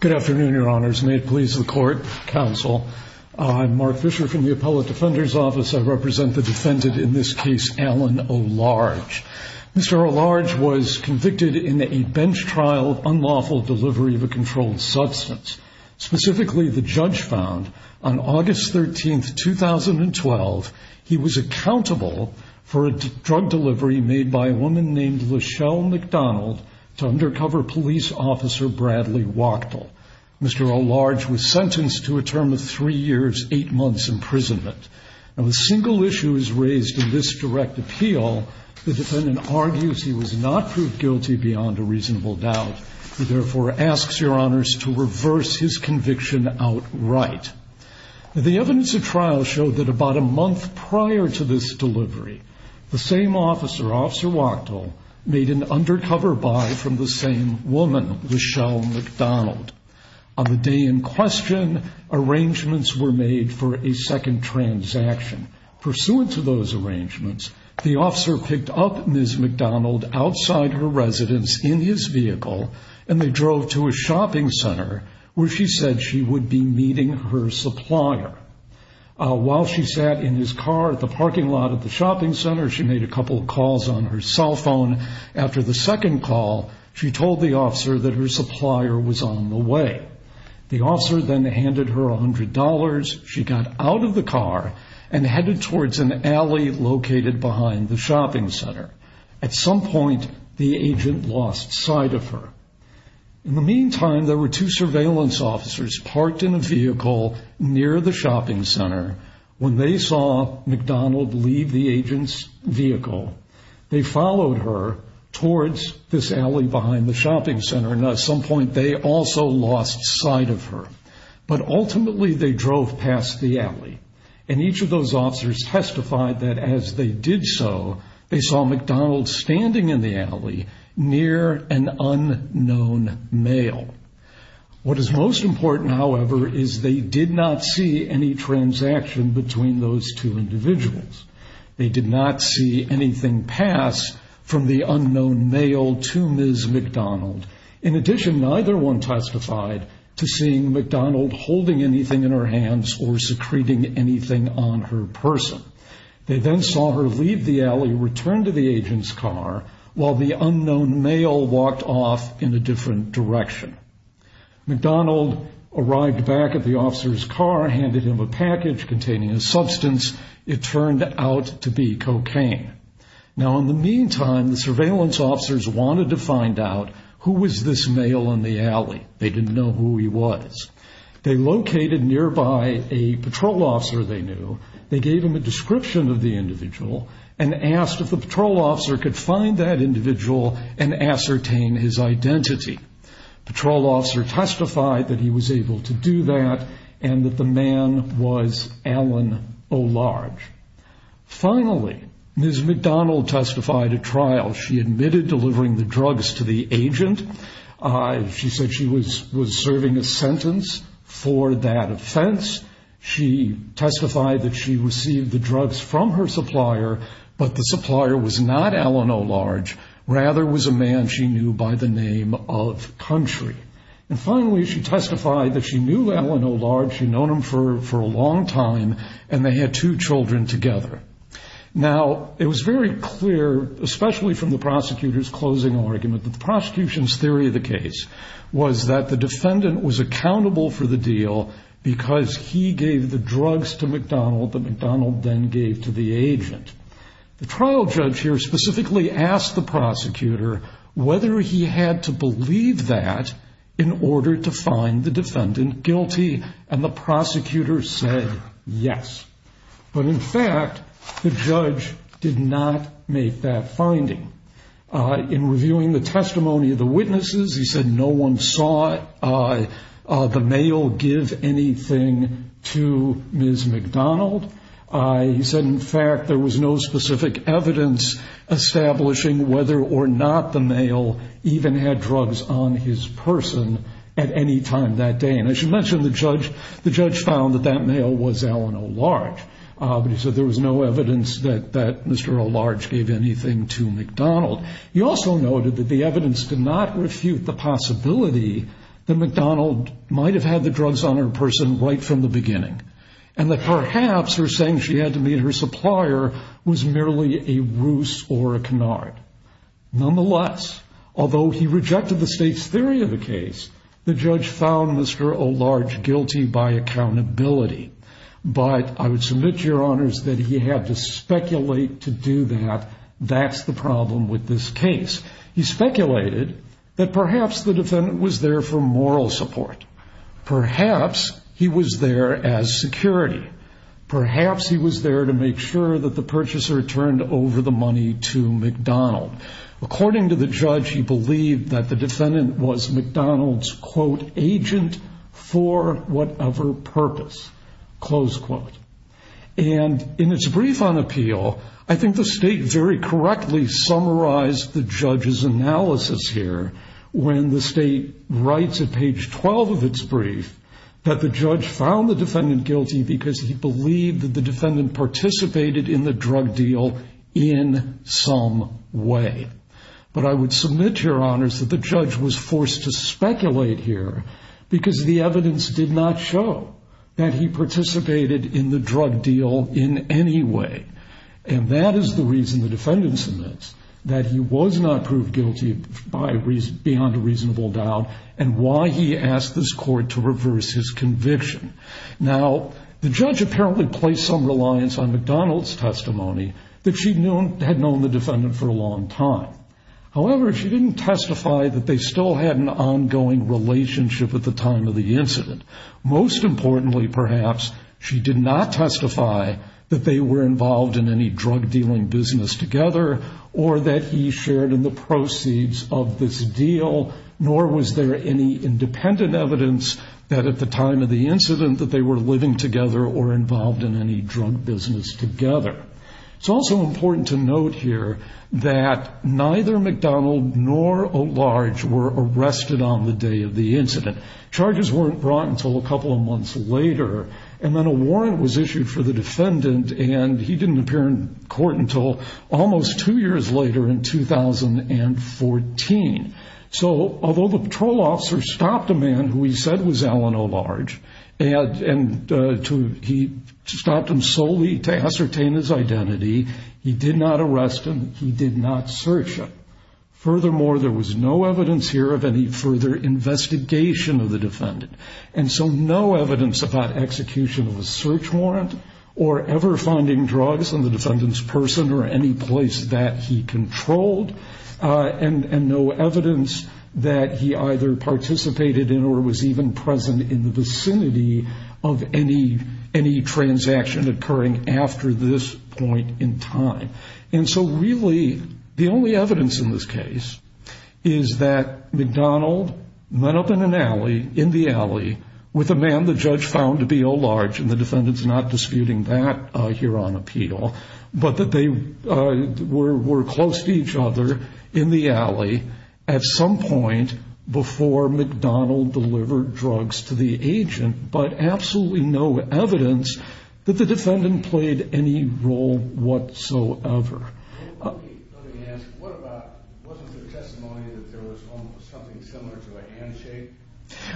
Good afternoon, Your Honors. May it please the Court, Counsel. I'm Mark Fisher from the Appellate Defender's Office. I represent the defendant in this case, Alan O'Large. Mr. O'Large was convicted in a bench trial of unlawful delivery of a on August 13, 2012, he was accountable for a drug delivery made by a woman named Lachelle McDonald to undercover police officer Bradley Wachtel. Mr. O'Large was sentenced to a term of three years, eight months imprisonment. Now the single issue is raised in this direct appeal. The defendant argues he was not proved guilty beyond a reasonable doubt. He therefore asks Your Honors to reverse his conviction outright. The evidence of trial showed that about a month prior to this delivery, the same officer, Officer Wachtel, made an undercover buy from the same woman, Lachelle McDonald. On the day in question, arrangements were made for a second transaction. Pursuant to those arrangements, the officer picked up Ms. McDonald outside her residence in his vehicle and they drove to a shopping center where she said she would be meeting her supplier. While she sat in his car at the parking lot of the shopping center, she made a couple of calls on her cell phone. After the second call, she told the officer that her supplier was on the way. The officer then handed her $100. She got out of the car and headed towards an alley located behind the shopping center. At some point the agent lost sight of her. In the meantime, there were two surveillance officers parked in a vehicle near the shopping center. When they saw McDonald leave the agent's vehicle, they followed her towards this alley behind the shopping center and at some point they also lost sight of her. But ultimately they drove past the alley and each of those officers testified that as they did so, they saw McDonald standing in the alley near an unknown male. What is most important, however, is they did not see any transaction between those two individuals. They did not see anything pass from the unknown male to Ms. McDonald. In addition, neither one testified to seeing McDonald holding anything in her hands or secreting anything on her person. They then saw her leave the alley, return to the agent's car while the unknown male walked off in a different direction. McDonald arrived back at the officer's car and handed him a package containing a substance. It turned out to be cocaine. Now in the meantime, the surveillance officers wanted to find out who was this male in the alley. They didn't know who he was. They located nearby a patrol officer they knew. They gave him a description of the individual and asked if the patrol officer could find that individual and ascertain his identity. Patrol officer testified that he was able to do that and that the man was Alan O'Large. Finally, Ms. McDonald testified at trial. She admitted delivering the drugs to the agent. She said she was was serving a sentence for that offense. She testified that she received the drugs from her supplier, but the supplier was not Alan O'Large. Rather, it was a man she knew by the name of Country. Finally, she testified that she knew Alan O'Large. She'd known him for a long time and they had two children together. Now it was very clear, especially from the prosecutor's closing argument, that the prosecution's theory of the case was that the defendant was accountable for the deal because he gave the drugs to McDonald that McDonald then gave to the agent. The trial judge here specifically asked the prosecutor whether he had to believe that in order to find the defendant guilty and the prosecutor said yes. But in fact, the he said no one saw the male give anything to Ms. McDonald. He said in fact there was no specific evidence establishing whether or not the male even had drugs on his person at any time that day. And I should mention the judge the judge found that that male was Alan O'Large. But he said there was no evidence that that Mr. O'Large gave anything to McDonald. He also noted that the evidence did not refute the possibility that McDonald might have had the drugs on her person right from the beginning and that perhaps her saying she had to meet her supplier was merely a ruse or a canard. Nonetheless, although he rejected the state's theory of the case, the judge found Mr. O'Large guilty by accountability. But I would submit, Your Honors, that he had to speculate to do that. That's the problem with this case. He speculated that perhaps the defendant was there for moral support. Perhaps he was there as security. Perhaps he was there to make sure that the purchaser turned over the money to McDonald. According to the judge, he believed that the defendant was McDonald's quote agent for whatever purpose, close quote. And in its brief on appeal, I think the state very correctly summarized the judge's analysis here when the state writes at page 12 of its brief that the judge found the defendant guilty because he believed that the defendant participated in the drug deal in some way. But I would submit, Your Honors, that the judge was forced to speculate here because the evidence did not show that he participated in the drug deal in any way. And that is the reason the defendant submits, that he was not proved guilty beyond a reasonable doubt and why he asked this court to reverse his conviction. Now, the judge apparently placed some reliance on McDonald's testimony that she had known the defendant for a long time. However, she didn't testify that they still had an ongoing relationship at the time of the involved in any drug dealing business together or that he shared in the proceeds of this deal, nor was there any independent evidence that at the time of the incident that they were living together or involved in any drug business together. It's also important to note here that neither McDonald nor Olarge were arrested on the day of the incident. Charges weren't brought until a defendant, and he didn't appear in court until almost two years later in 2014. So although the patrol officer stopped a man who he said was Alan Olarge, and he stopped him solely to ascertain his identity, he did not arrest him, he did not search him. Furthermore, there was no evidence here of any further investigation of the defendant. And so no evidence about execution of a search warrant or ever finding drugs on the defendant's person or any place that he controlled, and no evidence that he either participated in or was even present in the vicinity of any transaction occurring after this point in time. And so really, the only evidence in this case is that McDonald met up in an alley, in the alley, with a man the judge found to be Olarge, and the defendant's not disputing that here on appeal, but that they were close to each other in the alley at some point before McDonald delivered drugs to the agent, but absolutely no evidence that the defendant played any role whatsoever.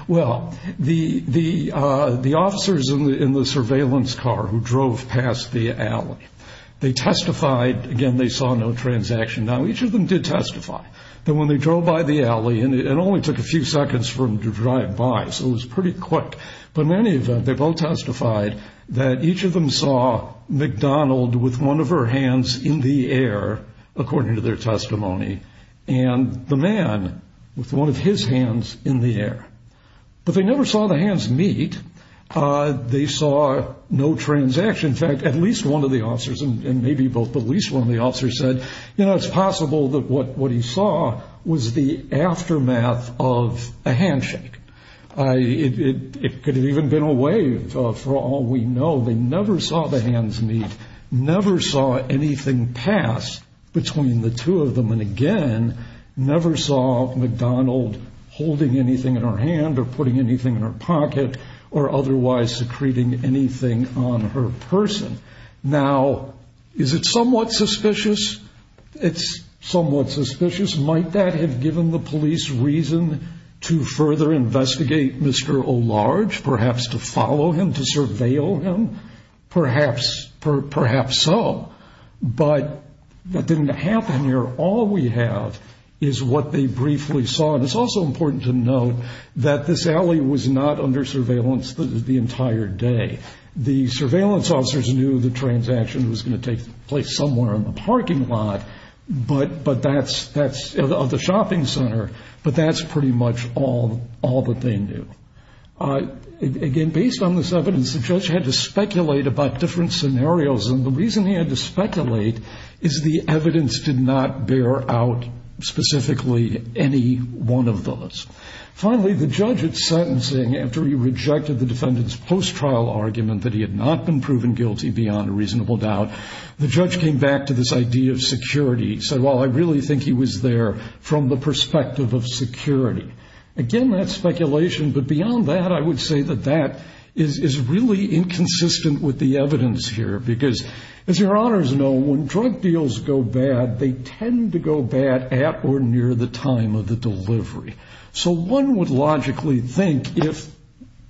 Well, the officers in the surveillance car who drove past the alley, they testified, again, they saw no transaction. Now, each of them did testify that when they drove by the alley, and it only took a few seconds for them to drive by, so it was pretty quick, but in any event, they both testified that each of them saw McDonald with one of her hands in the air, according to their testimony, and the man with one of his hands in the air. But they never saw the hands meet. They saw no transaction. In fact, at least one of the officers, and maybe both, but at least one of the officers said, you know, it's possible that what he saw was the hands meet. It could have even been a wave, for all we know. They never saw the hands meet, never saw anything pass between the two of them, and again, never saw McDonald holding anything in her hand or putting anything in her pocket, or otherwise secreting anything on her person. Now, is it somewhat suspicious? It's somewhat suspicious. Might that have given the police reason to further investigate Mr. Olarge, perhaps to follow him, to surveil him? Perhaps so, but that didn't happen here. All we have is what they briefly saw, and it's also important to note that this alley was not under surveillance the entire day. The surveillance officers knew the transaction was going to take place somewhere in the parking lot of the shopping center, but that's pretty much all that they knew. Again, based on this evidence, the judge had to speculate about different scenarios, and the reason he had to speculate is the evidence did not bear out specifically any one of those. Finally, the judge at sentencing, after he rejected the defendant's post-trial argument that he had not been proven guilty beyond a reasonable doubt, the judge came back to this idea of security. He said, well, I really think he was there from the Again, that's speculation, but beyond that, I would say that that is really inconsistent with the evidence here, because as your honors know, when drug deals go bad, they tend to go bad at or near the time of the delivery. So one would logically think if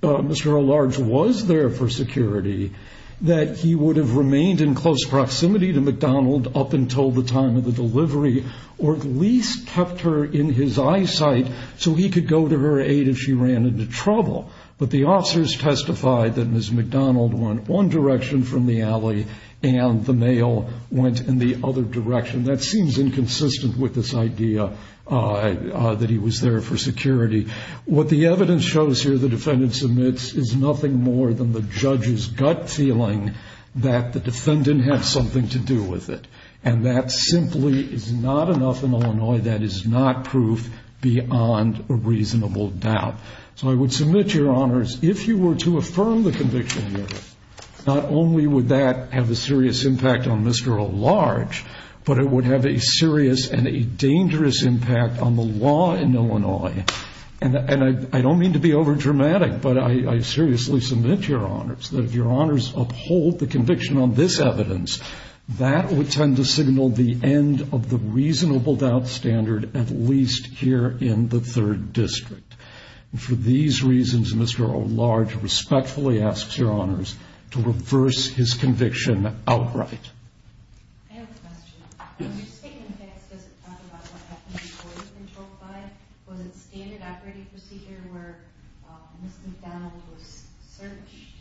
Mr. Olarge was there for security, that he would have remained in close proximity to McDonald up until the time of the delivery, or at least kept her in his eyesight so he could go to her aid if she ran into trouble. But the officers testified that Ms. McDonald went one direction from the alley, and the male went in the other direction. That seems inconsistent with this idea that he was there for security. What the evidence shows here, the defendant submits, is nothing more than the judge's gut feeling that the defendant had something to do with it, and that simply is not enough in proof beyond a reasonable doubt. So I would submit, your honors, if you were to affirm the conviction here, not only would that have a serious impact on Mr. Olarge, but it would have a serious and a dangerous impact on the law in Illinois. And I don't mean to be overdramatic, but I seriously submit, your honors, that if your honors uphold the conviction on this evidence, that would tend to signal the end of the reasonable doubt standard, at least here in the Third District. And for these reasons, Mr. Olarge respectfully asks your honors to reverse his conviction outright. I have a question. Your statement, I guess, doesn't talk about what happened before the controlled buy. Was it standard operating procedure where Ms. McDonald was searched?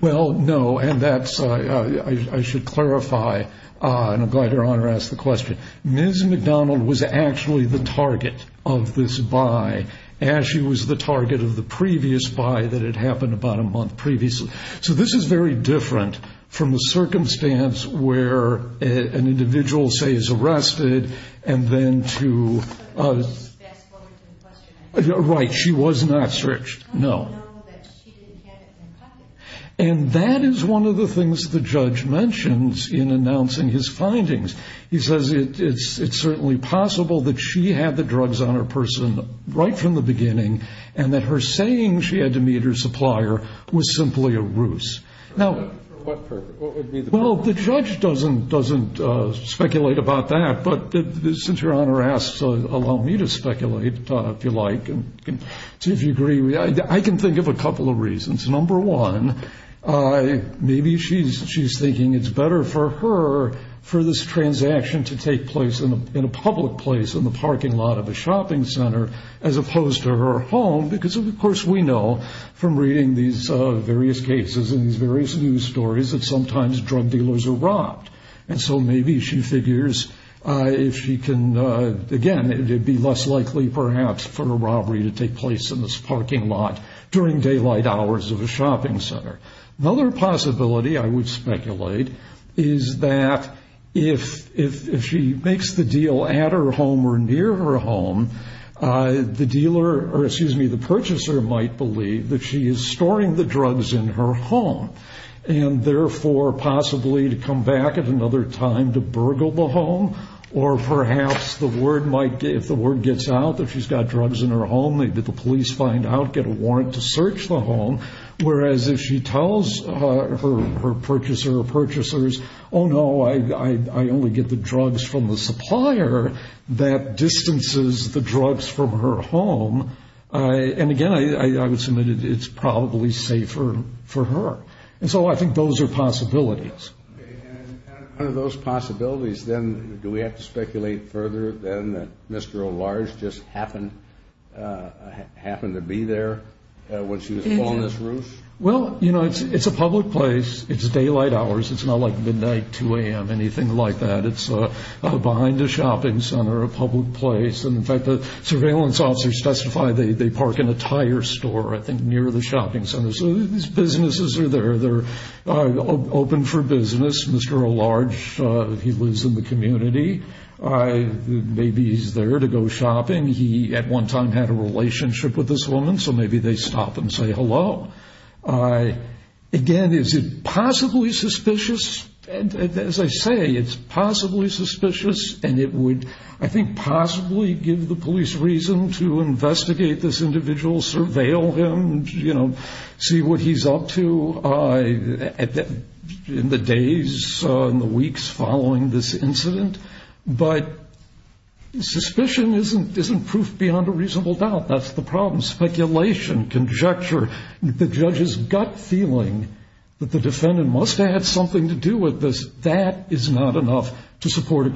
Well, no, and that's, I should clarify, and I'm glad your honor asked the question. Ms. McDonald was actually the target of this buy, as she was the target of the previous buy that had happened about a month previously. So this is very different from the circumstance where an individual, say, is arrested, and then to... But Ms. McDonald was the best lawyer to question that. Right, she was not searched, no. How do you know that she didn't have it in her pocket? And that is one of the things the judge mentions in announcing his findings. He says it's certainly possible that she had the drugs on her person right from the What would be the... Well, the judge doesn't speculate about that, but since your honor asks, allow me to speculate, if you like, and see if you agree. I can think of a couple of reasons. Number one, maybe she's thinking it's better for her for this transaction to take place in a public place, in the parking lot of a shopping center, as opposed to her home, because, of course, we know from reading these various cases and these various news stories that sometimes drug dealers are robbed. And so maybe she figures if she can, again, it would be less likely, perhaps, for a robbery to take place in this parking lot during daylight hours of a shopping center. Another possibility, I would speculate, is that if she makes the deal at her home or near her home, the dealer, or excuse me, the purchaser might believe that she is storing the drugs in her home, and therefore possibly to come back at another time to burgle the home, or perhaps the word might, if the word gets out that she's got drugs in her home, maybe the police find out, get a warrant to search the home, whereas if she tells her purchaser or purchasers, oh no, I only get the drugs from the supplier, that I would submit it's probably safer for her. And so I think those are possibilities. And out of those possibilities, then, do we have to speculate further, then, that Mr. O'Large just happened to be there when she was pulling this roof? Well, you know, it's a public place. It's daylight hours. It's not like midnight, 2 a.m., anything like that. It's behind a shopping center, a public place, and in fact, the surveillance officers testify they park in a tire store, I think, near the shopping center. So these businesses are there. They're open for business. Mr. O'Large, he lives in the community. Maybe he's there to go shopping. He, at one time, had a relationship with this woman, so maybe they stop and say hello. Again, is it possibly suspicious? As I say, it's possibly suspicious, and it would, I think, be the least reason to investigate this individual, surveil him, you know, see what he's up to in the days, in the weeks following this incident. But suspicion isn't proof beyond a reasonable doubt. That's the problem. Speculation, conjecture, the judge's gut feeling that the defendant must have had something to do with this, that is not enough to support a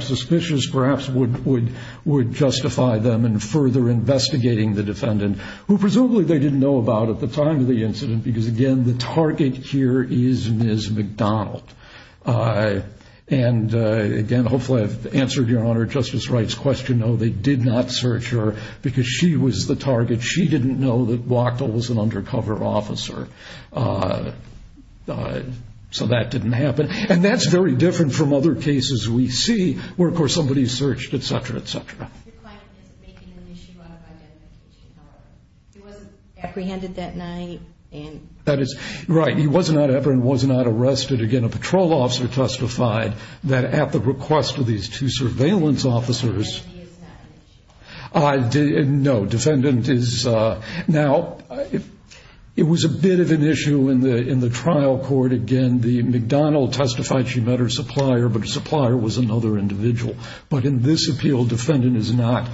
suspicions, perhaps, would justify them in further investigating the defendant, who presumably they didn't know about at the time of the incident because, again, the target here is Ms. McDonald. And, again, hopefully I've answered your Honor, Justice Wright's question. No, they did not search her because she was the target. She didn't know that Wachtel was an undercover officer, so that didn't happen. And that's very different from other cases we see where, of course, somebody searched, et cetera, et cetera. Your client isn't making an issue out of identification, however. He wasn't apprehended that night? That is right. He was not apprehended, was not arrested. Again, a patrol officer testified that at the request of these two surveillance officers. And he is not an issue? No, defendant is, now, it was a bit of an issue in the trial court. Again, the McDonald testified she met her supplier, but her supplier was another individual. But in this appeal, defendant is not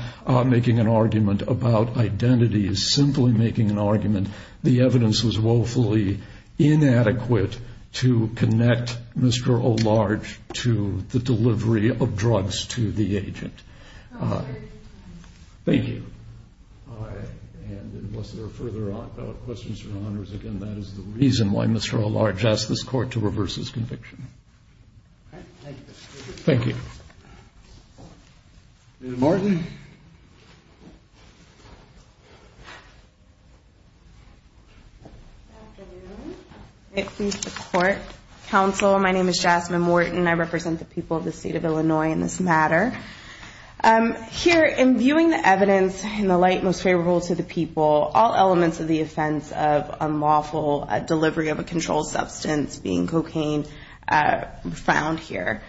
making an argument about identity, is simply making an argument the evidence was woefully inadequate to connect Mr. O'Large to the delivery of drugs to the agent. Thank you. And unless there are further questions from the Honors, again, that is the reason why Mr. O'Large asked this Court to reverse his conviction. Thank you. Ms. Morton. Good afternoon. I seek support. Counsel, my name is Jasmine Morton. I represent the people of the state of Illinois in this matter. Here, in viewing the evidence in the light most favorable to the people, all elements of the offense of unlawful delivery of a controlled substance, being cocaine, found here.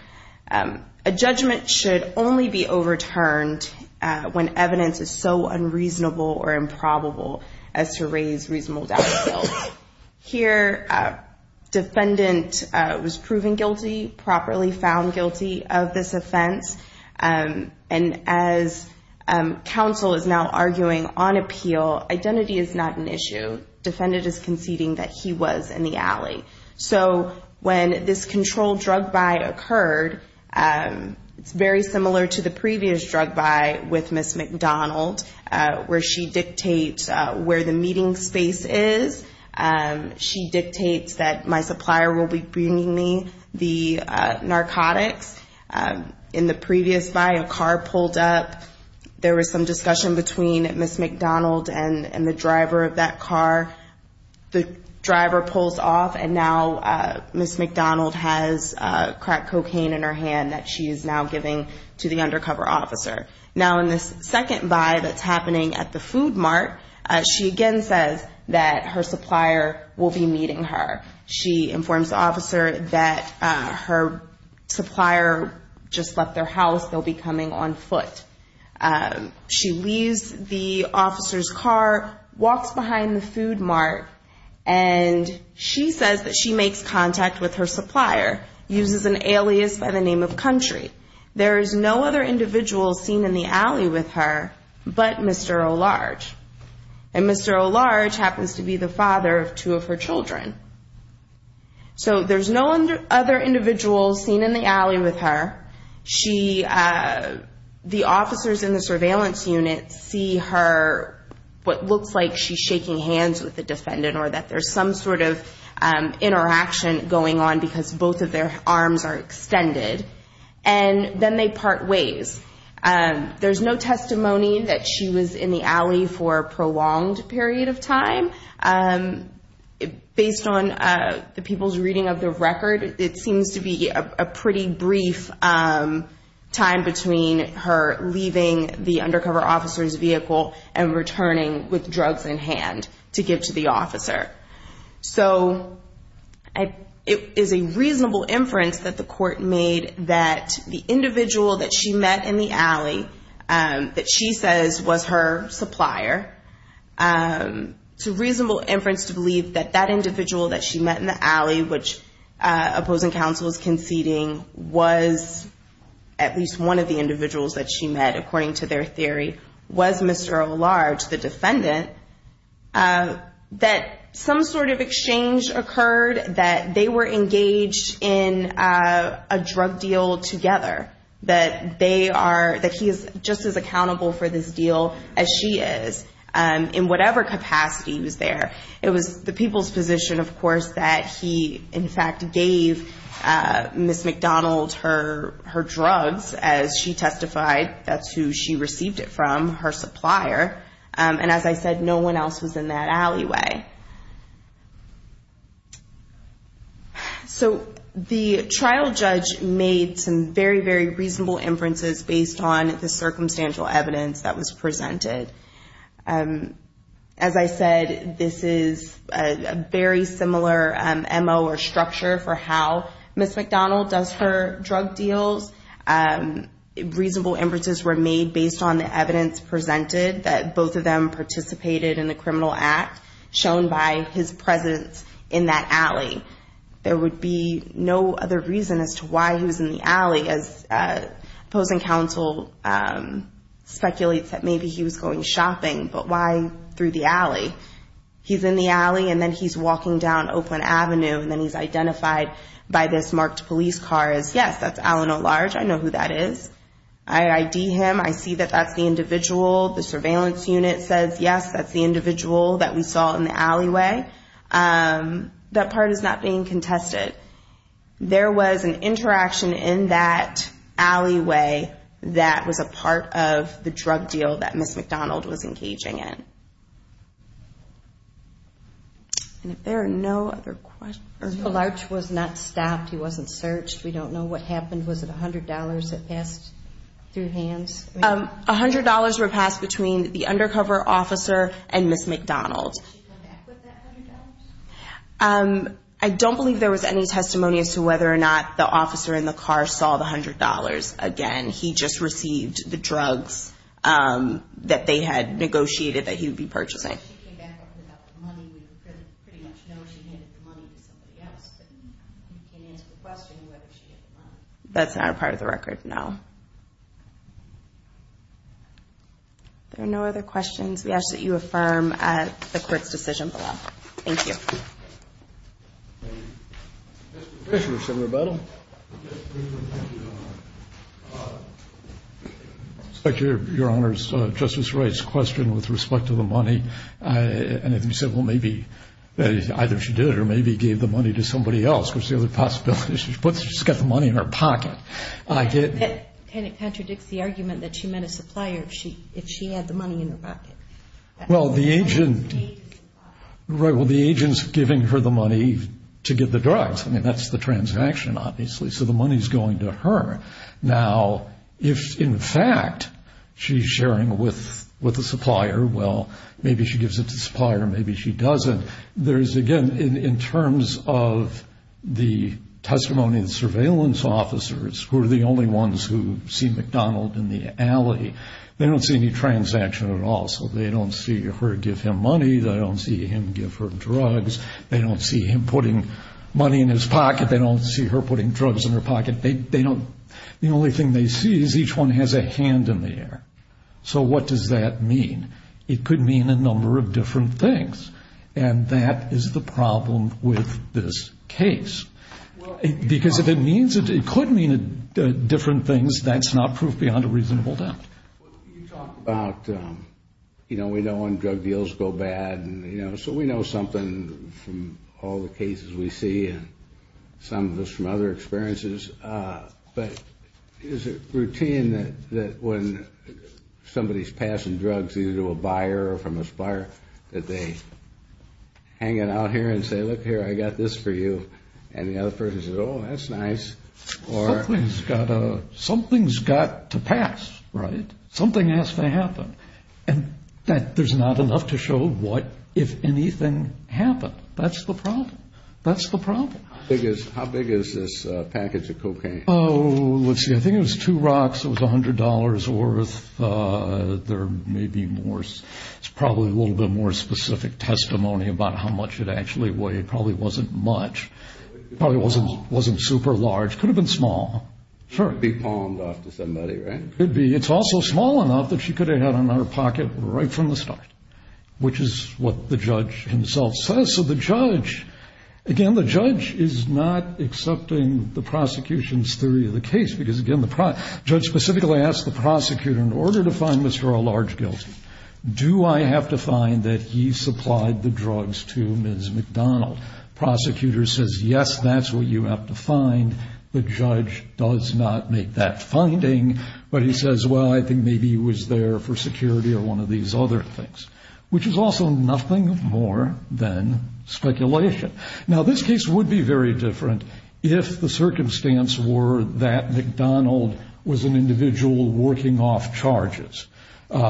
A judgment should only be overturned when evidence is so unreasonable or improbable as to raise reasonable doubt. Here, defendant was proven guilty, properly found guilty of this offense. And as counsel is now arguing on appeal, identity is not an issue. Defendant is conceding that he was in the alley. So when this controlled drug buy occurred, it's very similar to the previous drug buy with Ms. McDonald, where she dictates where the meeting space is. She dictates that my supplier will be bringing me the narcotics. In the previous buy, a car pulled up. There was some driver pulls off and now Ms. McDonald has crack cocaine in her hand that she is now giving to the undercover officer. Now in this second buy that's happening at the food mart, she again says that her supplier will be meeting her. She informs the officer that her supplier just left their house. They'll be coming on foot. She leaves the officer's car, walks behind the food mart, and she says that she makes contact with her supplier, uses an alias by the name of Country. There is no other individuals seen in the alley with her but Mr. Olarge. And Mr. Olarge happens to be the father of two of her children. So there's no other individuals seen in the alley with her. The officers in the surveillance unit see her, what looks like she's shaking hands with the defendant or that there's some sort of interaction going on because both of their arms are extended. And then they part ways. There's no testimony that she was in the alley for a prolonged period of time. Based on the people's reading of the record, it seems to be a pretty brief time between her leaving the undercover officer's vehicle and returning with drugs in hand to give to the officer. So it is a reasonable inference that the court made that the individual that she met in the alley that she says was her supplier, it's a reasonable inference to believe that that individual that she met in the alley, which opposing counsel is conceding, was at least one of the individuals that she met according to their theory, was Mr. Olarge, the defendant, that some sort of exchange occurred, that they were engaged in a drug deal together, that they are... That he is just as accountable for this deal as she is in whatever capacity he was there. It was the people's position, of course, that he in fact gave Ms. McDonald her drugs as she testified. That's who she received it from, her supplier. And as I said, no one else was in that alleyway. So the trial judge made some very, very reasonable inferences based on the circumstantial evidence that was presented. As I said, this is a very similar MO or structure for how Ms. McDonald does her drug deals. Reasonable inferences were made based on the evidence presented that both of them participated in the criminal act shown by his presence in that alley. There would be no other reason as to why he was in the alley, as opposing counsel speculates that maybe he was going shopping, but why through the alley? He's in the alley and then he's walking down Oakland Avenue and then he's identified by this marked police car as, yes, that's Alan O'Large. I know who that is. I ID him. I see that that's the individual. The surveillance unit says, yes, that's the individual that we saw in the alleyway. That part is not being contested. There was an interaction in that alleyway that was a part of the drug deal that Ms. McDonald was engaging in. And if there are no other questions... O'Large was not stopped. He wasn't searched. We don't know what happened. Was it $100 that passed through hands? $100 were passed between the undercover officer and Ms. McDonald. Did she come back with that $100? I don't believe there was any testimony as to whether or not the officer in the car saw the $100. Again, he just received the drugs that they had negotiated that he would be purchasing. She came back with that money. We pretty much know she handed the money to somebody else, but we can't answer the question whether she had the money. That's not a part of the record, no. There are no other questions. We ask that you affirm the court's decision below. Thank you. Mr. Fisher, Senator Bettle. Your Honor, Justice Wright's question with respect to the money. And if you said, well, maybe either she did it or maybe gave the money to somebody else, which is the other possibility. She's got the money in her pocket. And it contradicts the argument that she met a supplier if she had the money in her pocket. Well, the agent's giving her the money to get the drugs. I mean, that's the transaction, obviously. So the money's going to her. Now, if in fact she's sharing with the supplier, well, maybe she gives it to the supplier, maybe she doesn't. There's, again, in terms of the testimony of the surveillance officers who are the transaction at all. So they don't see her give him money. They don't see him give her drugs. They don't see him putting money in his pocket. They don't see her putting drugs in her pocket. They don't. The only thing they see is each one has a hand in the air. So what does that mean? It could mean a number of different things. And that is the problem with this case. Because if it means it could mean different things, that's not proof beyond a reasonable doubt. Well, you talked about, you know, we know when drug deals go bad. And, you know, so we know something from all the cases we see and some of us from other experiences. But is it routine that when somebody's passing drugs either to a buyer or from a supplier, that they hang it out here and say, look here, I got this for you? And the other person says, oh, that's nice. Something's got to pass, right? Something has to happen. And there's not enough to show what, if anything, happened. That's the problem. That's the problem. How big is this package of cocaine? Oh, let's see. I think it was two rocks. It was $100 worth. There may be more. It's probably a little bit more specific testimony about how much it actually weighed. Probably wasn't much. Probably wasn't super large. Could have been small. Could be pawned off to somebody, right? Could be. It's also small enough that she could have had it in her pocket right from the start, which is what the judge himself says. So the judge, again, the judge is not accepting the prosecution's theory of the case. Because, again, the judge specifically asked the prosecutor, in order to find Mr. O'Large guilty, do I have to find that he supplied the drugs to Ms. McDonald? The prosecutor says, yes, that's what you have to find. The judge does not make that finding. But he says, well, I think maybe he was there for security or one of these other things, which is also nothing more than speculation. Now, this case would be very different if the circumstance were that McDonald was an individual working off charges.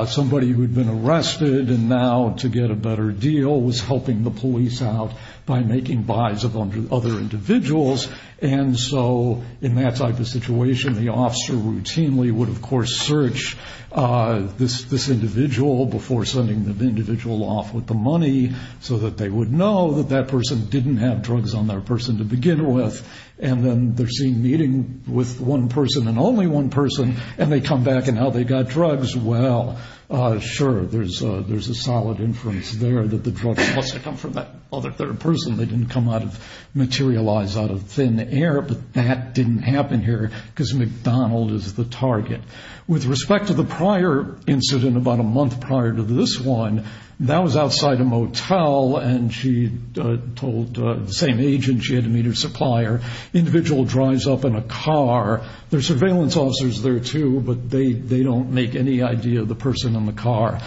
Somebody who had been making buys of other individuals. And so in that type of situation, the officer routinely would, of course, search this individual before sending the individual off with the money so that they would know that that person didn't have drugs on their person to begin with. And then they're seen meeting with one person and only one person, and they come back and now they've got drugs. Well, sure, there's a solid inference there that the drugs must have come from that other person. They didn't materialize out of thin air, but that didn't happen here because McDonald is the target. With respect to the prior incident, about a month prior to this one, that was outside a motel and she told the same agent she had to meet her supplier. The individual drives up in a car. There are surveillance officers there, too, but they don't make any idea of the person in the car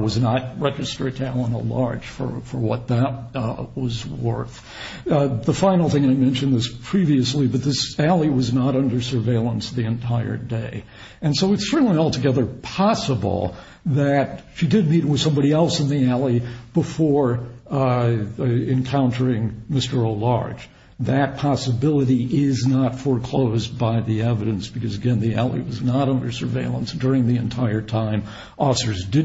was not registered to Alan O'Large for what that was worth. The final thing, and I mentioned this previously, but this alley was not under surveillance the entire day. And so it's certainly altogether possible that she did meet with somebody else in the alley before encountering Mr. O'Large. That possibility is not foreclosed by the evidence because, again, the alley was not under surveillance during the time of the incident.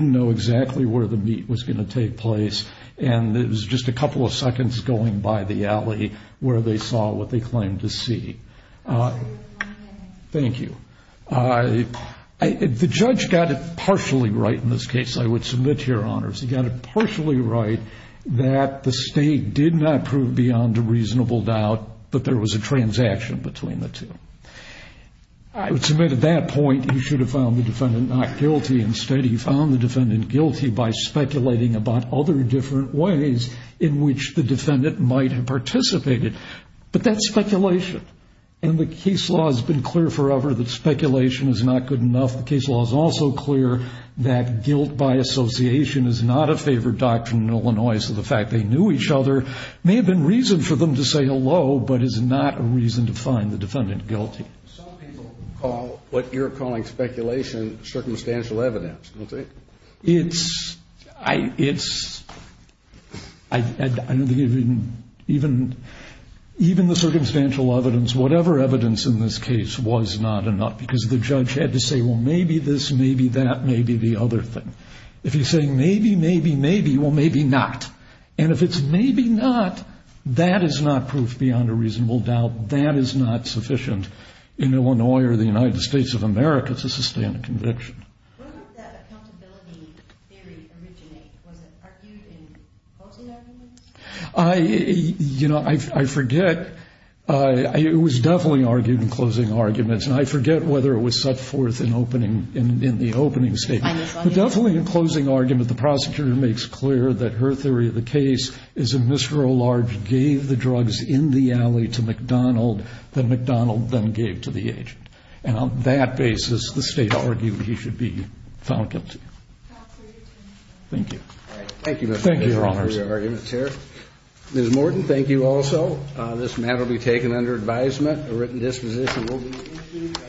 The judge got it partially right in this case, I would submit, Your Honors. He got it partially right that the state did not prove beyond a reasonable doubt that there was a transaction between the two. I would submit, at that point, he should have found the defendant not guilty. about other different ways in which the defendant might have participated. But that's speculation. And the case law has been clear forever that speculation is not good enough. The case law is also clear that guilt by association is not a favored doctrine in Illinois. So the fact they knew each other may have been reason for them to say hello, but is not a reason to find the defendant guilty. Some people call what you're calling speculation circumstantial evidence. I don't think even the circumstantial evidence, whatever evidence in this case, was not enough because the judge had to say, well, maybe this, maybe that, maybe the other thing. If you're saying maybe, maybe, maybe, well, maybe not. And if it's maybe not, that is not proof beyond a reasonable doubt. That is not sufficient in Illinois or the United States of America to sustain a conviction. When did that accountability theory originate? Was it argued in closing arguments? You know, I forget. It was definitely argued in closing arguments. And I forget whether it was set forth in the opening statement. But definitely in closing argument, the prosecutor makes clear that her theory of the case is that Mr. O'Large gave the drugs in the alley to McDonald that McDonald then argued he should be found guilty. Thank you. Thank you, Mr. Moore for your arguments here. Ms. Morton, thank you also. This matter will be taken under advisement. A written disposition will be issued.